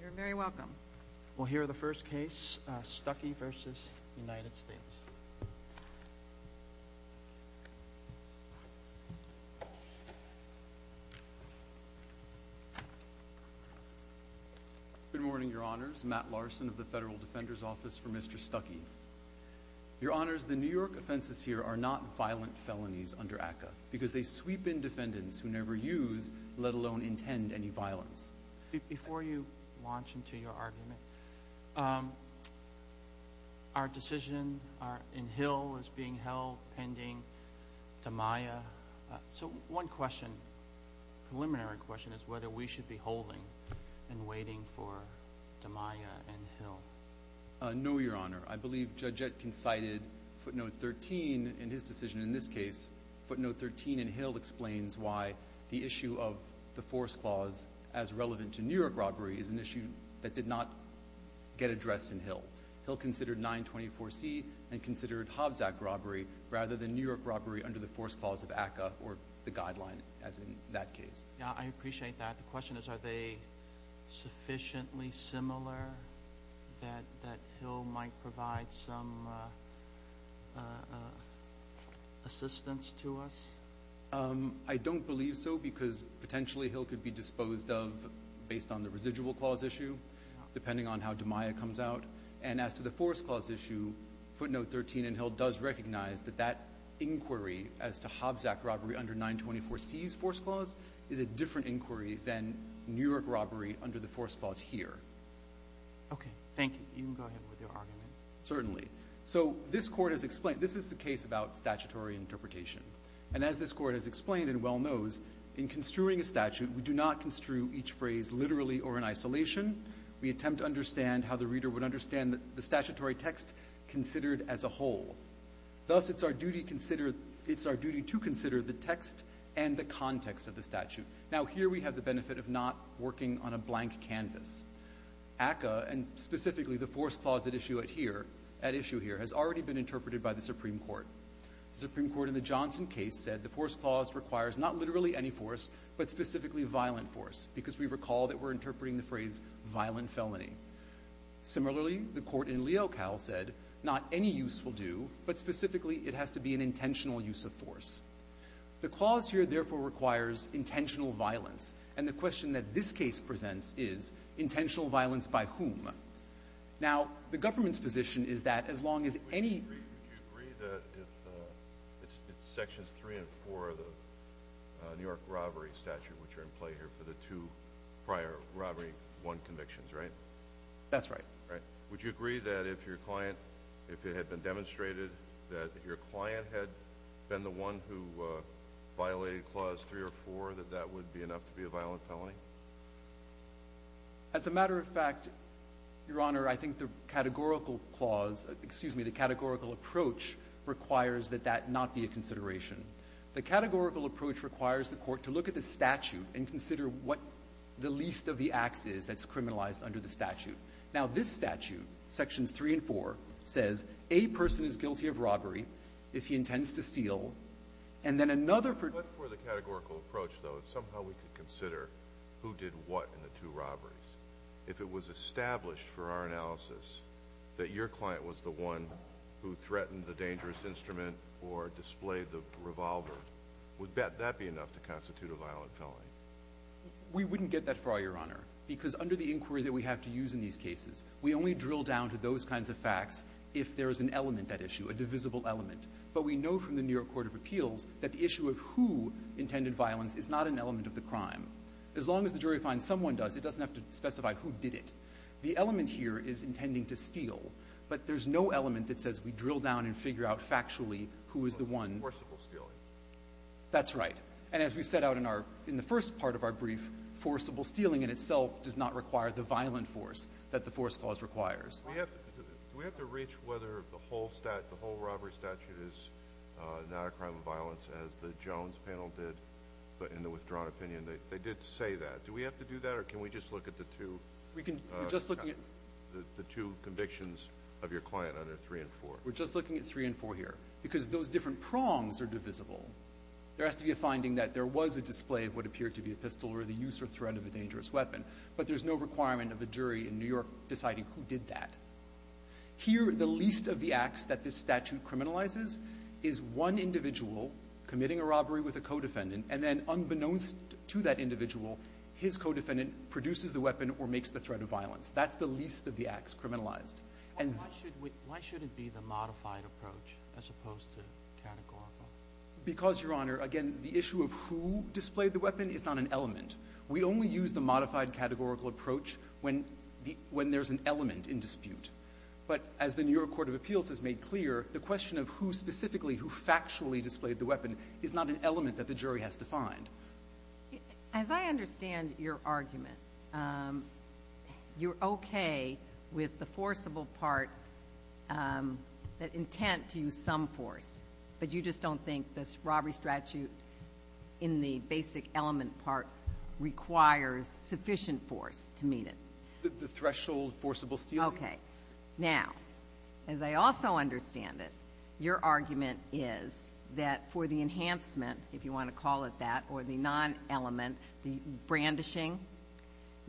You're very welcome. We'll hear the first case, Stuckey v. United States. Good morning, Your Honors. Matt Larson of the Federal Defender's Office for Mr. Stuckey. Your Honors, the New York offenses here are not violent felonies under ACCA because they sweep in defendants who never use, let alone intend, any violence. Before you launch into your argument, our decision in Hill is being held pending DiMaia. So one question, preliminary question, is whether we should be holding and waiting for DiMaia in Hill. No, Your Honor. I believe Judge Etkin cited footnote 13 in his decision in this case. Footnote 13 in Hill explains why the issue of the force clause as relevant to New York robbery is an issue that did not get addressed in Hill. Hill considered 924C and considered Hobbs Act robbery rather than New York robbery under the force clause of ACCA or the guideline as in that case. Yeah, I appreciate that. The question is are they sufficiently similar that Hill might provide some assistance to us? I don't believe so because potentially Hill could be disposed of based on the residual clause issue, depending on how DiMaia comes out. And as to the force clause issue, footnote 13 in Hill does recognize that that inquiry as to Hobbs Act robbery under 924C's force clause is a different inquiry than New York robbery under the force clause here. Okay, thank you. You can go ahead with your argument. Certainly. So this Court has explained. This is the case about statutory interpretation. And as this Court has explained and well knows, in construing a statute, we do not construe each phrase literally or in isolation. We attempt to understand how the reader would understand the statutory text considered as a whole. Thus, it's our duty to consider the text and the context of the statute. Now, here we have the benefit of not working on a blank canvas. ACCA, and specifically the force clause at issue here, has already been interpreted by the Supreme Court. The Supreme Court in the Johnson case said the force clause requires not literally any force, but specifically violent force because we recall that we're interpreting the phrase violent felony. Similarly, the court in Leocal said not any use will do, but specifically it has to be an intentional use of force. The clause here, therefore, requires intentional violence. And the question that this case presents is intentional violence by whom? Now, the government's position is that as long as any— Would you agree that if it's Sections 3 and 4 of the New York robbery statute which are in play here for the two prior Robbery I convictions, right? That's right. Would you agree that if your client, if it had been demonstrated that your client had been the one who violated Clause 3 or 4, that that would be enough to be a violent felony? As a matter of fact, Your Honor, I think the categorical clause— excuse me, the categorical approach requires that that not be a consideration. The categorical approach requires the court to look at the statute and consider what the least of the acts is that's criminalized under the statute. Now, this statute, Sections 3 and 4, says a person is guilty of robbery if he intends to steal, and then another— But for the categorical approach, though, if somehow we could consider who did what in the two robberies, if it was established for our analysis that your client was the one who threatened the dangerous instrument or displayed the revolver, would that be enough to constitute a violent felony? We wouldn't get that far, Your Honor, because under the inquiry that we have to use in these cases, we only drill down to those kinds of facts if there is an element at issue, a divisible element. But we know from the New York Court of Appeals that the issue of who intended violence is not an element of the crime. As long as the jury finds someone does, it doesn't have to specify who did it. The element here is intending to steal, but there's no element that says we drill down and figure out factually who is the one— Forcible stealing. That's right. And as we set out in our — in the first part of our brief, forcible stealing in itself does not require the violent force that the force clause requires. Do we have to reach whether the whole robbery statute is not a crime of violence as the Jones panel did in the withdrawn opinion? They did say that. Do we have to do that, or can we just look at the two convictions of your client under 3 and 4? We're just looking at 3 and 4 here because those different prongs are divisible. There has to be a finding that there was a display of what appeared to be a pistol or the use or threat of a dangerous weapon, but there's no requirement of a jury in New York deciding who did that. Here, the least of the acts that this statute criminalizes is one individual committing a robbery with a co-defendant, and then unbeknownst to that individual, his co-defendant produces the weapon or makes the threat of violence. That's the least of the acts criminalized. And why should it be the modified approach as opposed to categorical? Because, Your Honor, again, the issue of who displayed the weapon is not an element. We only use the modified categorical approach when there's an element in dispute. But as the New York Court of Appeals has made clear, the question of who specifically, who factually displayed the weapon, is not an element that the jury has defined. As I understand your argument, you're okay with the forcible part, the intent to use some force, but you just don't think this robbery statute in the basic element part requires sufficient force to meet it. The threshold forcible stealing. Okay. Now, as I also understand it, your argument is that for the enhancement, if you want to call it that, or the non-element, the brandishing,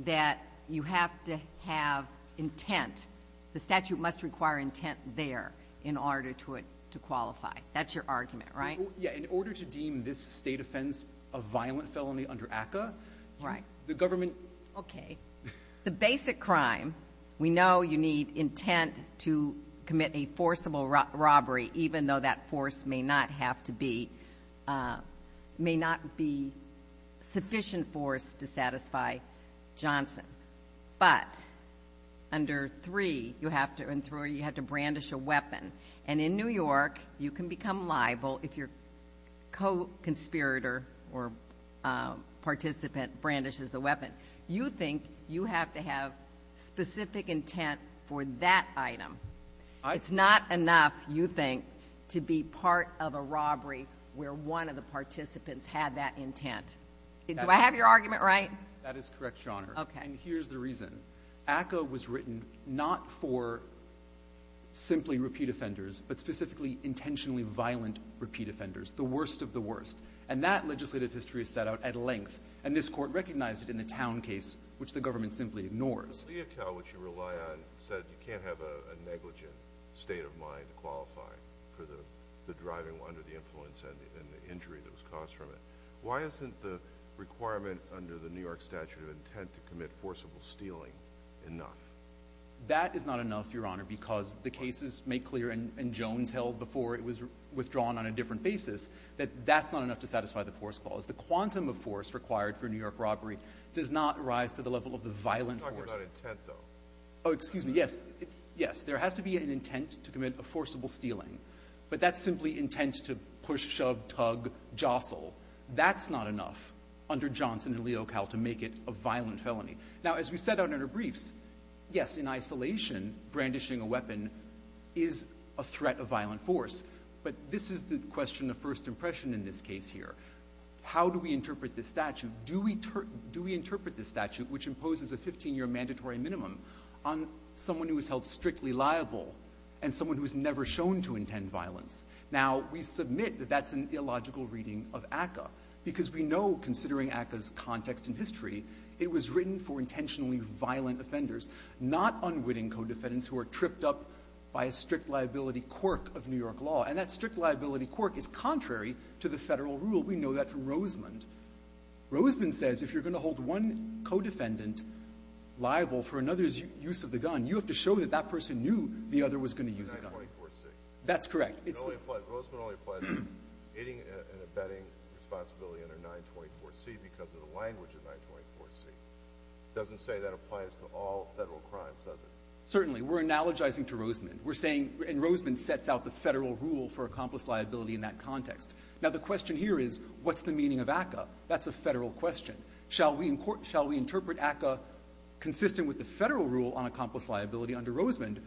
that you have to have intent. The statute must require intent there in order to qualify. That's your argument, right? Yeah. In order to deem this state offense a violent felony under ACCA, the government... Okay. The basic crime, we know you need intent to commit a forcible robbery, even though that force may not have to be, may not be sufficient force to satisfy Johnson. But under 3, you have to brandish a weapon. And in New York, you can become liable if your co-conspirator or participant brandishes a weapon. You think you have to have specific intent for that item. It's not enough, you think, to be part of a robbery where one of the participants had that intent. Do I have your argument right? That is correct, Your Honor. Okay. And here's the reason. ACCA was written not for simply repeat offenders, but specifically intentionally violent repeat offenders, the worst of the worst. And that legislative history is set out at length. And this Court recognized it in the Town case, which the government simply ignores. Leocal, which you rely on, said you can't have a negligent state of mind to qualify for the driving under the influence and the injury that was caused from it. Why isn't the requirement under the New York statute of intent to commit forcible stealing enough? That is not enough, Your Honor, because the cases make clear, and Jones held before it was withdrawn on a different basis, that that's not enough to satisfy the force clause. The quantum of force required for New York robbery does not rise to the level of the violent force. You're talking about intent, though. Oh, excuse me. Yes. Yes. There has to be an intent to commit a forcible stealing. But that's simply intent to push, shove, tug, jostle. That's not enough under Johnson and Leocal to make it a violent felony. Now, as we set out in our briefs, yes, in isolation, brandishing a weapon is a threat of violent force. But this is the question of first impression in this case here. How do we interpret this statute? Do we interpret this statute, which imposes a 15-year mandatory minimum, on someone who is held strictly liable and someone who is never shown to intend violence? Now, we submit that that's an illogical reading of ACCA, because we know, considering ACCA's context and history, it was written for intentionally violent offenders, not unwitting co-defendants who are tripped up by a strict liability quirk of New York law. And that strict liability quirk is contrary to the Federal rule. We know that from Rosemond. Rosemond says if you're going to hold one co-defendant liable for another's use of the gun, you have to show that that person knew the other was going to use the gun. That's correct. It's the only one. Rosemond only applies hitting and abetting responsibility under 924C because of the language of 924C. It doesn't say that applies to all Federal crimes, does it? We're analogizing to Rosemond. in that context. Now, the question here is, what's the meaning of ACCA? That's a Federal question. Shall we interpret ACCA consistent with the Federal rule on accomplice liability under Rosemond?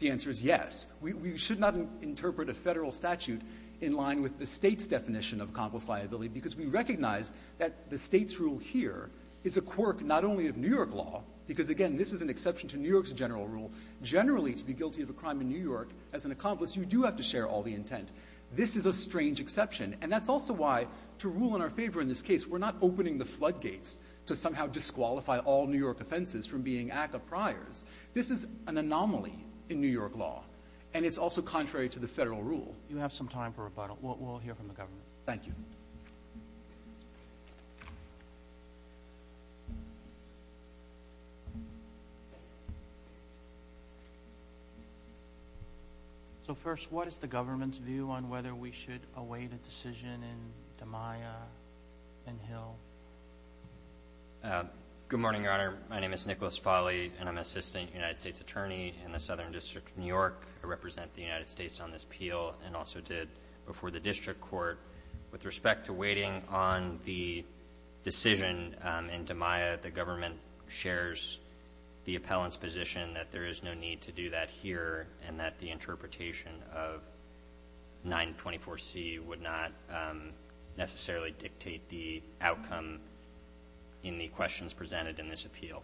The answer is yes. We should not interpret a Federal statute in line with the State's definition of accomplice liability, because we recognize that the State's rule here is a quirk not only of New York law, because, again, this is an exception to New York's general rule. Generally, to be guilty of a crime in New York, as an accomplice, you do have to share all the intent. This is a strange exception. And that's also why, to rule in our favor in this case, we're not opening the flood gates to somehow disqualify all New York offenses from being ACCA priors. This is an anomaly in New York law. And it's also contrary to the Federal rule. You have some time for rebuttal. We'll hear from the government. Thank you. So, first, what is the government's view on whether we should await a decision in DiMaio and Hill? Good morning, Your Honor. My name is Nicholas Folly, and I'm an assistant United States attorney in the Southern District of New York. I represent the United States on this appeal and also did before the district court. With respect to waiting on the decision in DiMaio, the government shares the appellant's position that there is no need to do that here and that the interpretation of 924C would not necessarily dictate the outcome in the questions presented in this appeal.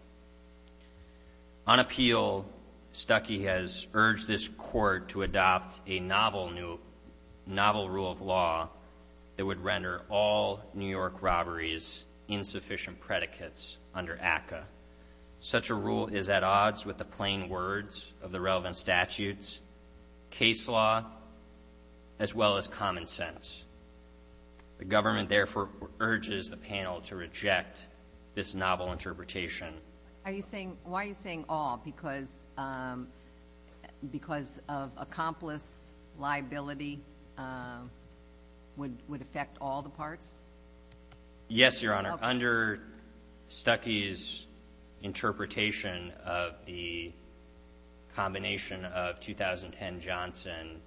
On appeal, Stuckey has urged this court to adopt a novel rule of law that would render all New York robberies insufficient predicates under ACCA. Such a rule is at odds with the plain words of the relevant statutes, case law, as well as common sense. The government, therefore, urges the panel to reject this novel interpretation. Why are you saying all? Because of accomplice liability would affect all the parts? Yes, Your Honor. Under Stuckey's interpretation of the combination of 2010 Johnson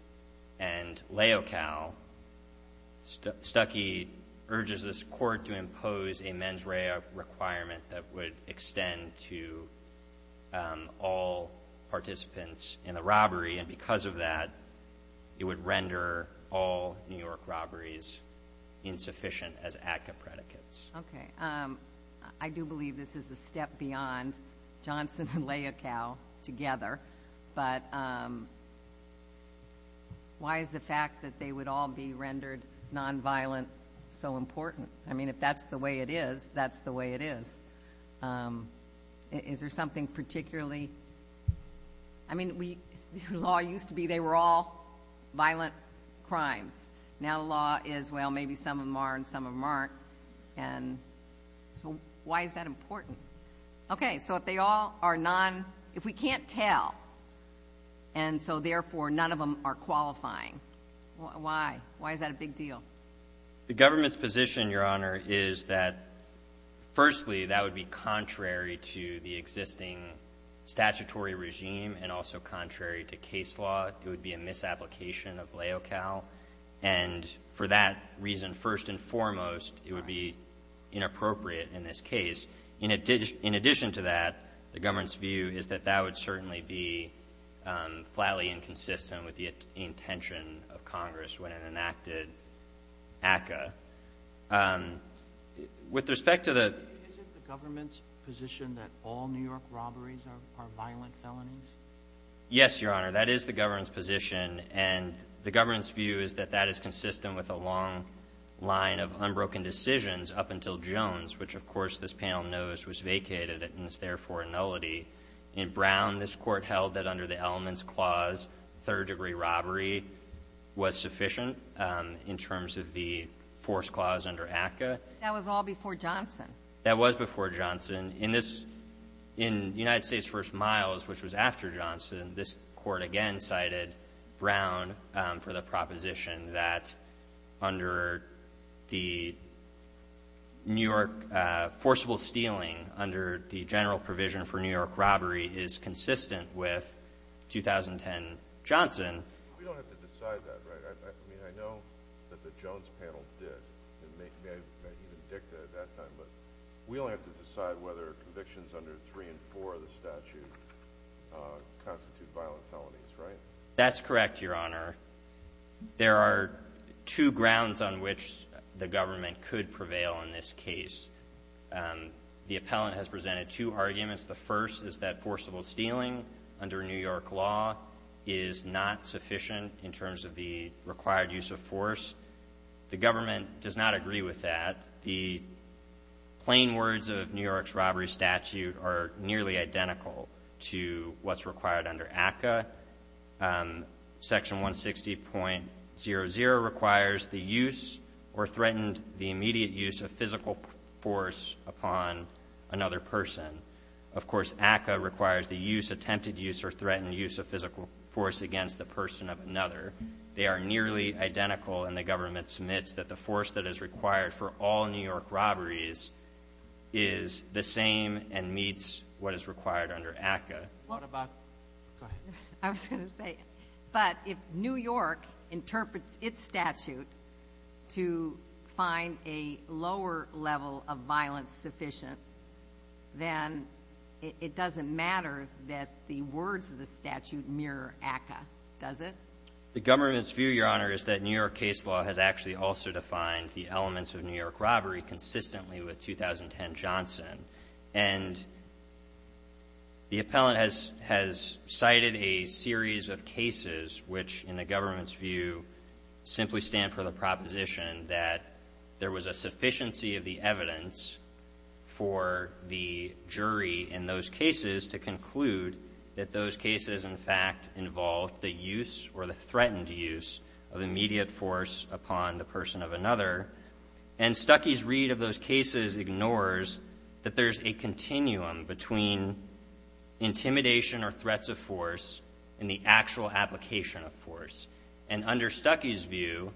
and Leocal, Stuckey urges this court to impose a mens rea requirement that would extend to all participants in the robbery, and because of that, it would render all New York I do believe this is a step beyond Johnson and Leocal together, but why is the fact that they would all be rendered nonviolent so important? I mean, if that's the way it is, that's the way it is. Is there something particularly? I mean, law used to be they were all violent crimes. Now law is, well, maybe some of them are and some of them aren't, and so why is that important? Okay, so if they all are non, if we can't tell, and so therefore none of them are qualifying, why? Why is that a big deal? The government's position, Your Honor, is that, firstly, that would be contrary to the existing statutory regime and also contrary to case law. It would be a misapplication of Leocal, and for that reason, first and foremost, it would be inappropriate in this case. In addition to that, the government's view is that that would certainly be flatly inconsistent with the intention of Congress when it enacted ACCA. With respect to the — Isn't the government's position that all New York robberies are violent felonies? Yes, Your Honor. That is the government's position, and the government's view is that that is consistent with a long line of unbroken decisions up until Jones, which of course this panel knows was vacated and is therefore a nullity. In Brown, this Court held that under the Elements Clause, third-degree robbery was sufficient in terms of the Force Clause under ACCA. That was all before Johnson. That was before Johnson. In this, in United States v. Miles, which was after Johnson, this Court again cited Brown for the proposition that under the New York forcible stealing under the general provision for New York robbery is consistent with 2010 Johnson. We don't have to decide that, right? I mean, I know that the Jones panel did, and maybe I even dicked it at that time, but we only have to decide whether convictions under 3 and 4 of the statute constitute violent felonies, right? That's correct, Your Honor. There are two grounds on which the government could prevail in this case. The appellant has presented two arguments. The first is that forcible stealing under New York law is not sufficient in terms of the required use of force. The government does not agree with that. The plain words of New York's robbery statute are nearly identical to what's required under ACCA. Section 160.00 requires the use or threatened the immediate use of physical force upon another person. Of course, ACCA requires the use, attempted use, or threatened use of physical force against the person of another. They are nearly identical, and the government submits that the force that is required for all New York robberies is the same and meets what is required under ACCA. What about – go ahead. I was going to say, but if New York interprets its statute to find a lower level of violence sufficient, then it doesn't matter that the words of the statute mirror ACCA, does it? The government's view, Your Honor, is that New York case law has actually also defined the elements of New York robbery consistently with 2010 Johnson. And the appellant has cited a series of cases which, in the government's view, simply stand for the proposition that there was a sufficiency of the evidence for the jury in those cases to conclude that those cases, in fact, involved the use or the threatened use of immediate force upon the person of another. And Stuckey's read of those cases ignores that there's a continuum between intimidation or threats of force and the actual application of force. And under Stuckey's view,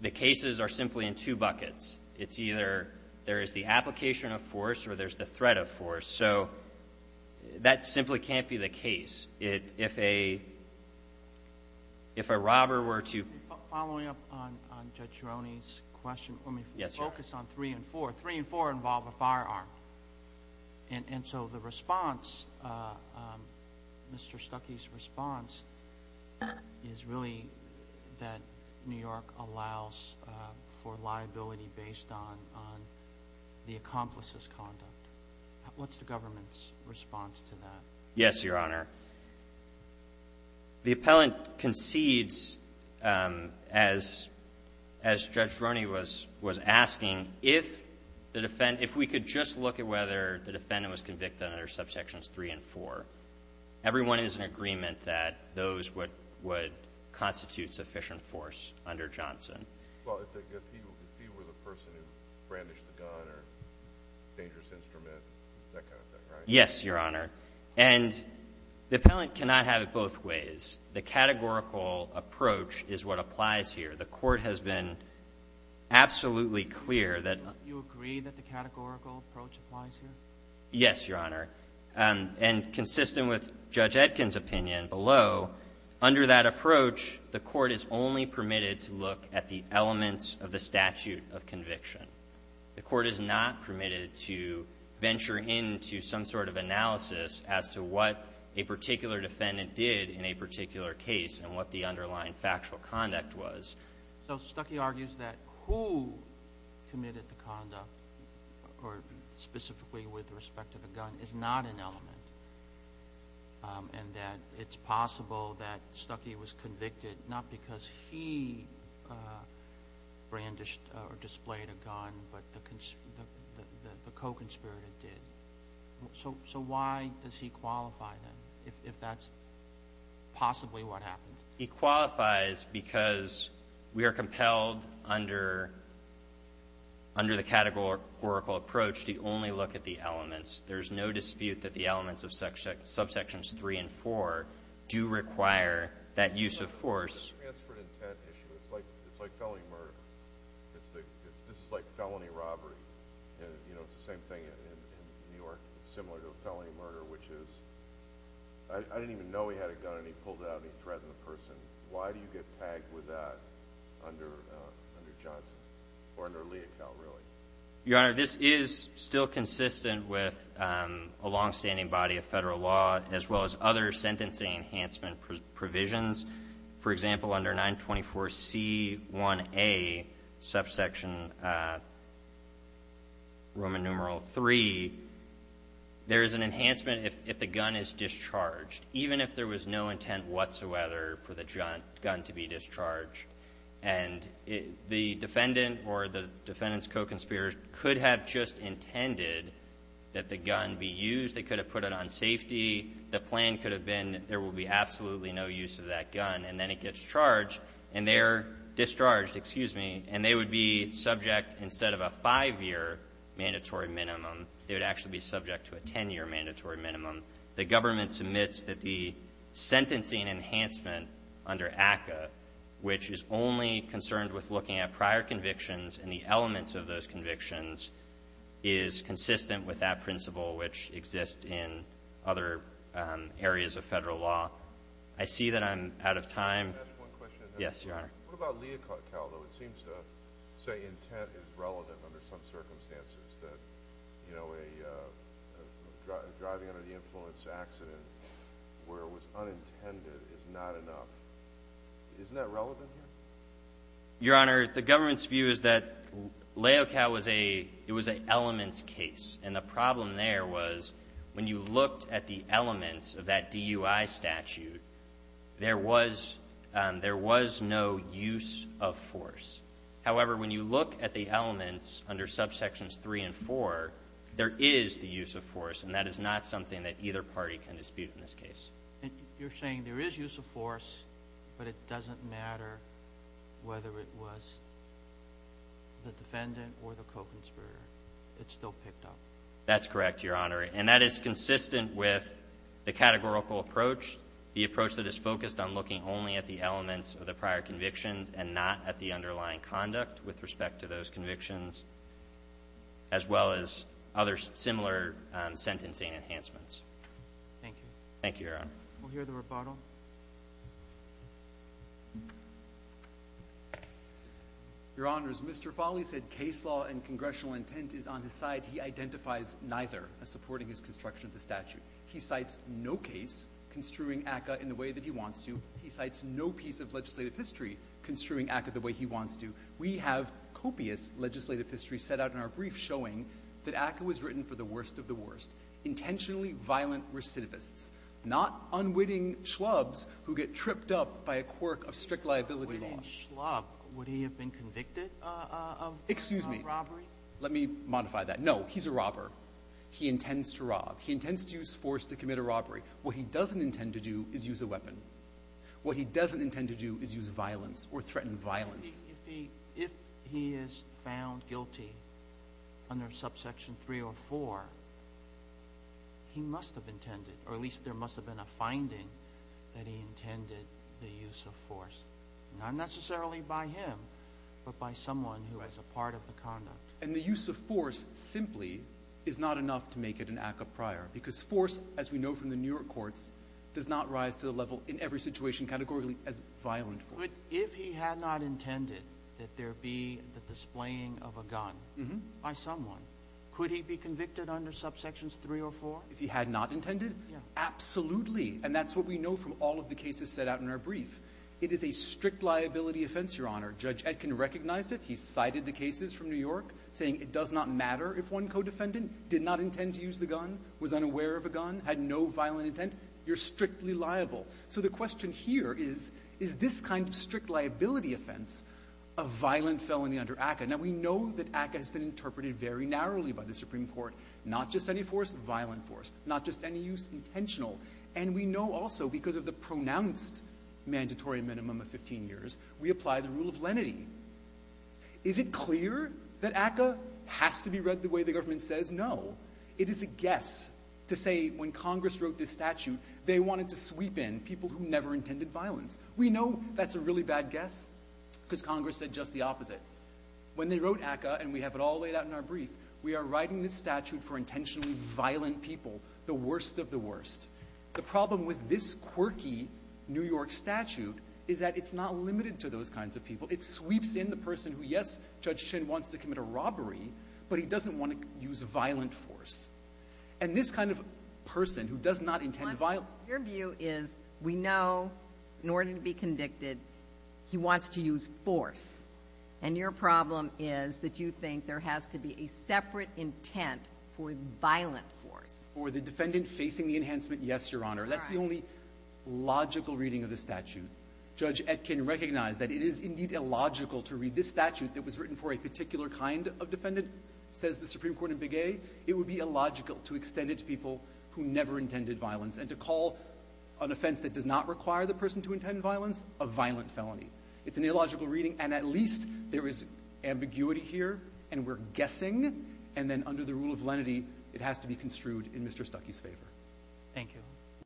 the cases are simply in two buckets. It's either there is the application of force or there's the threat of force. So that simply can't be the case. If a robber were to – Following up on Judge Gironi's question, let me focus on three and four. Three and four involve a firearm. And so the response, Mr. Stuckey's response, is really that New York allows for liability based on the accomplice's conduct. What's the government's response to that? Yes, Your Honor. The appellant concedes, as Judge Gironi was asking, if the defendant – if we could just look at whether the defendant was convicted under subsections three and four, everyone is in agreement that those would constitute sufficient force under Johnson. Well, if he was a person who brandished a gun or dangerous instrument, that kind of thing, right? Yes, Your Honor. And the appellant cannot have it both ways. The categorical approach is what applies here. The Court has been absolutely clear that – Do you agree that the categorical approach applies here? Yes, Your Honor. And consistent with Judge Etkin's opinion below, under that approach, the Court is only permitted to look at the elements of the statute of conviction. The Court is not permitted to venture into some sort of analysis as to what a particular defendant did in a particular case and what the underlying factual conduct was. So Stuckey argues that who committed the conduct, or specifically with respect to the gun, is not an element, and that it's possible that Stuckey was convicted not because he brandished or displayed a gun, but the co-conspirator did. So why does he qualify, then, if that's possibly what happened? He qualifies because we are compelled under the categorical approach to only look at the elements. There's no dispute that the elements of subsections three and four do require that use of force. Let me ask for an intent issue. It's like felony murder. This is like felony robbery. It's the same thing in New York, similar to a felony murder, which is, I didn't even know he had a gun and he pulled it out and he threatened the person. Why do you get tagged with that under Johnson, or under Leocal, really? Your Honor, this is still consistent with a longstanding body of federal law, as well as other sentencing enhancement provisions. For example, under 924C1A, subsection Roman numeral three, there is an enhancement if the gun is discharged, even if there was no intent whatsoever for the gun to be discharged. And the defendant or the defendant's co-conspirator could have just intended that the gun be used. They could have put it on safety. The plan could have been there will be absolutely no use of that gun, and then it gets charged and they're discharged, excuse me, and they would be subject instead of a five-year mandatory minimum, they would actually be subject to a ten-year mandatory minimum. The government submits that the sentencing enhancement under ACCA, which is only concerned with looking at prior convictions and the elements of those convictions, is consistent with that principle, which exists in other areas of federal law. I see that I'm out of time. Can I ask one question? Yes, Your Honor. What about Leocal, though? It seems to say intent is relevant under some circumstances, that driving under the influence accident where it was unintended is not enough. Isn't that relevant here? Your Honor, the government's view is that Leocal was an elements case, and the problem there was when you looked at the elements of that DUI statute, there was no use of force. However, when you look at the elements under subsections 3 and 4, there is the use of force, and that is not something that either party can dispute in this case. You're saying there is use of force, but it doesn't matter whether it was the defendant or the co-conspirator. It's still picked up. That's correct, Your Honor, and that is consistent with the categorical approach, the approach that is focused on looking only at the elements of the prior convictions and not at the underlying conduct with respect to those convictions, as well as other similar sentencing enhancements. Thank you. Thank you, Your Honor. We'll hear the rebuttal. Your Honor, as Mr. Foley said, case law and congressional intent is on his side. He identifies neither as supporting his construction of the statute. He cites no case construing ACCA in the way that he wants to. He cites no piece of legislative history construing ACCA the way he wants to. We have copious legislative history set out in our brief showing that ACCA was written for the worst of the worst, intentionally violent recidivists, not unwitting schlubs who get tripped up by a quirk of strict liability law. Unwitting schlub? Would he have been convicted of robbery? Excuse me. Let me modify that. No, he's a robber. He intends to rob. He intends to use force to commit a robbery. What he doesn't intend to do is use a weapon. What he doesn't intend to do is use violence or threaten violence. If he is found guilty under subsection 3 or 4, he must have intended, or at least there must have been a finding, that he intended the use of force. Not necessarily by him, but by someone who has a part of the conduct. And the use of force simply is not enough to make it an ACCA prior because force, as we know from the New York courts, does not rise to the level in every situation categorically as violent force. But if he had not intended that there be the displaying of a gun by someone, could he be convicted under subsections 3 or 4? If he had not intended? Absolutely. And that's what we know from all of the cases set out in our brief. It is a strict liability offense, Your Honor. Judge Etkin recognized it. He cited the cases from New York saying it does not matter if one co-defendant did not intend to use the gun, was unaware of a gun, had no violent intent. You're strictly liable. So the question here is, is this kind of strict liability offense a violent felony under ACCA? Now, we know that ACCA has been interpreted very narrowly by the Supreme Court, not just any force, violent force, not just any use intentional. And we know also because of the pronounced mandatory minimum of 15 years, we apply the rule of lenity. Is it clear that ACCA has to be read the way the government says? No. It is a guess to say when Congress wrote this statute, they wanted to sweep in people who never intended violence. We know that's a really bad guess because Congress said just the opposite. When they wrote ACCA, and we have it all laid out in our brief, we are writing this statute for intentionally violent people, the worst of the worst. The problem with this quirky New York statute is that it's not limited to those kinds of people. It sweeps in the person who, yes, Judge Chin wants to commit a robbery, but he doesn't want to use violent force. And this kind of person who does not intend violence. Your view is we know in order to be convicted, he wants to use force. And your problem is that you think there has to be a separate intent for violent force. For the defendant facing the enhancement, yes, Your Honor. That's the only logical reading of the statute. Judge Etkin recognized that it is indeed illogical to read this statute that was written for a particular kind of defendant, says the Supreme Court in Big A. It would be illogical to extend it to people who never intended violence and to call an offense that does not require the person to intend violence a violent felony. It's an illogical reading, and at least there is ambiguity here, and we're guessing, and then under the rule of lenity, it has to be construed in Mr. Stuckey's favor. Thank you.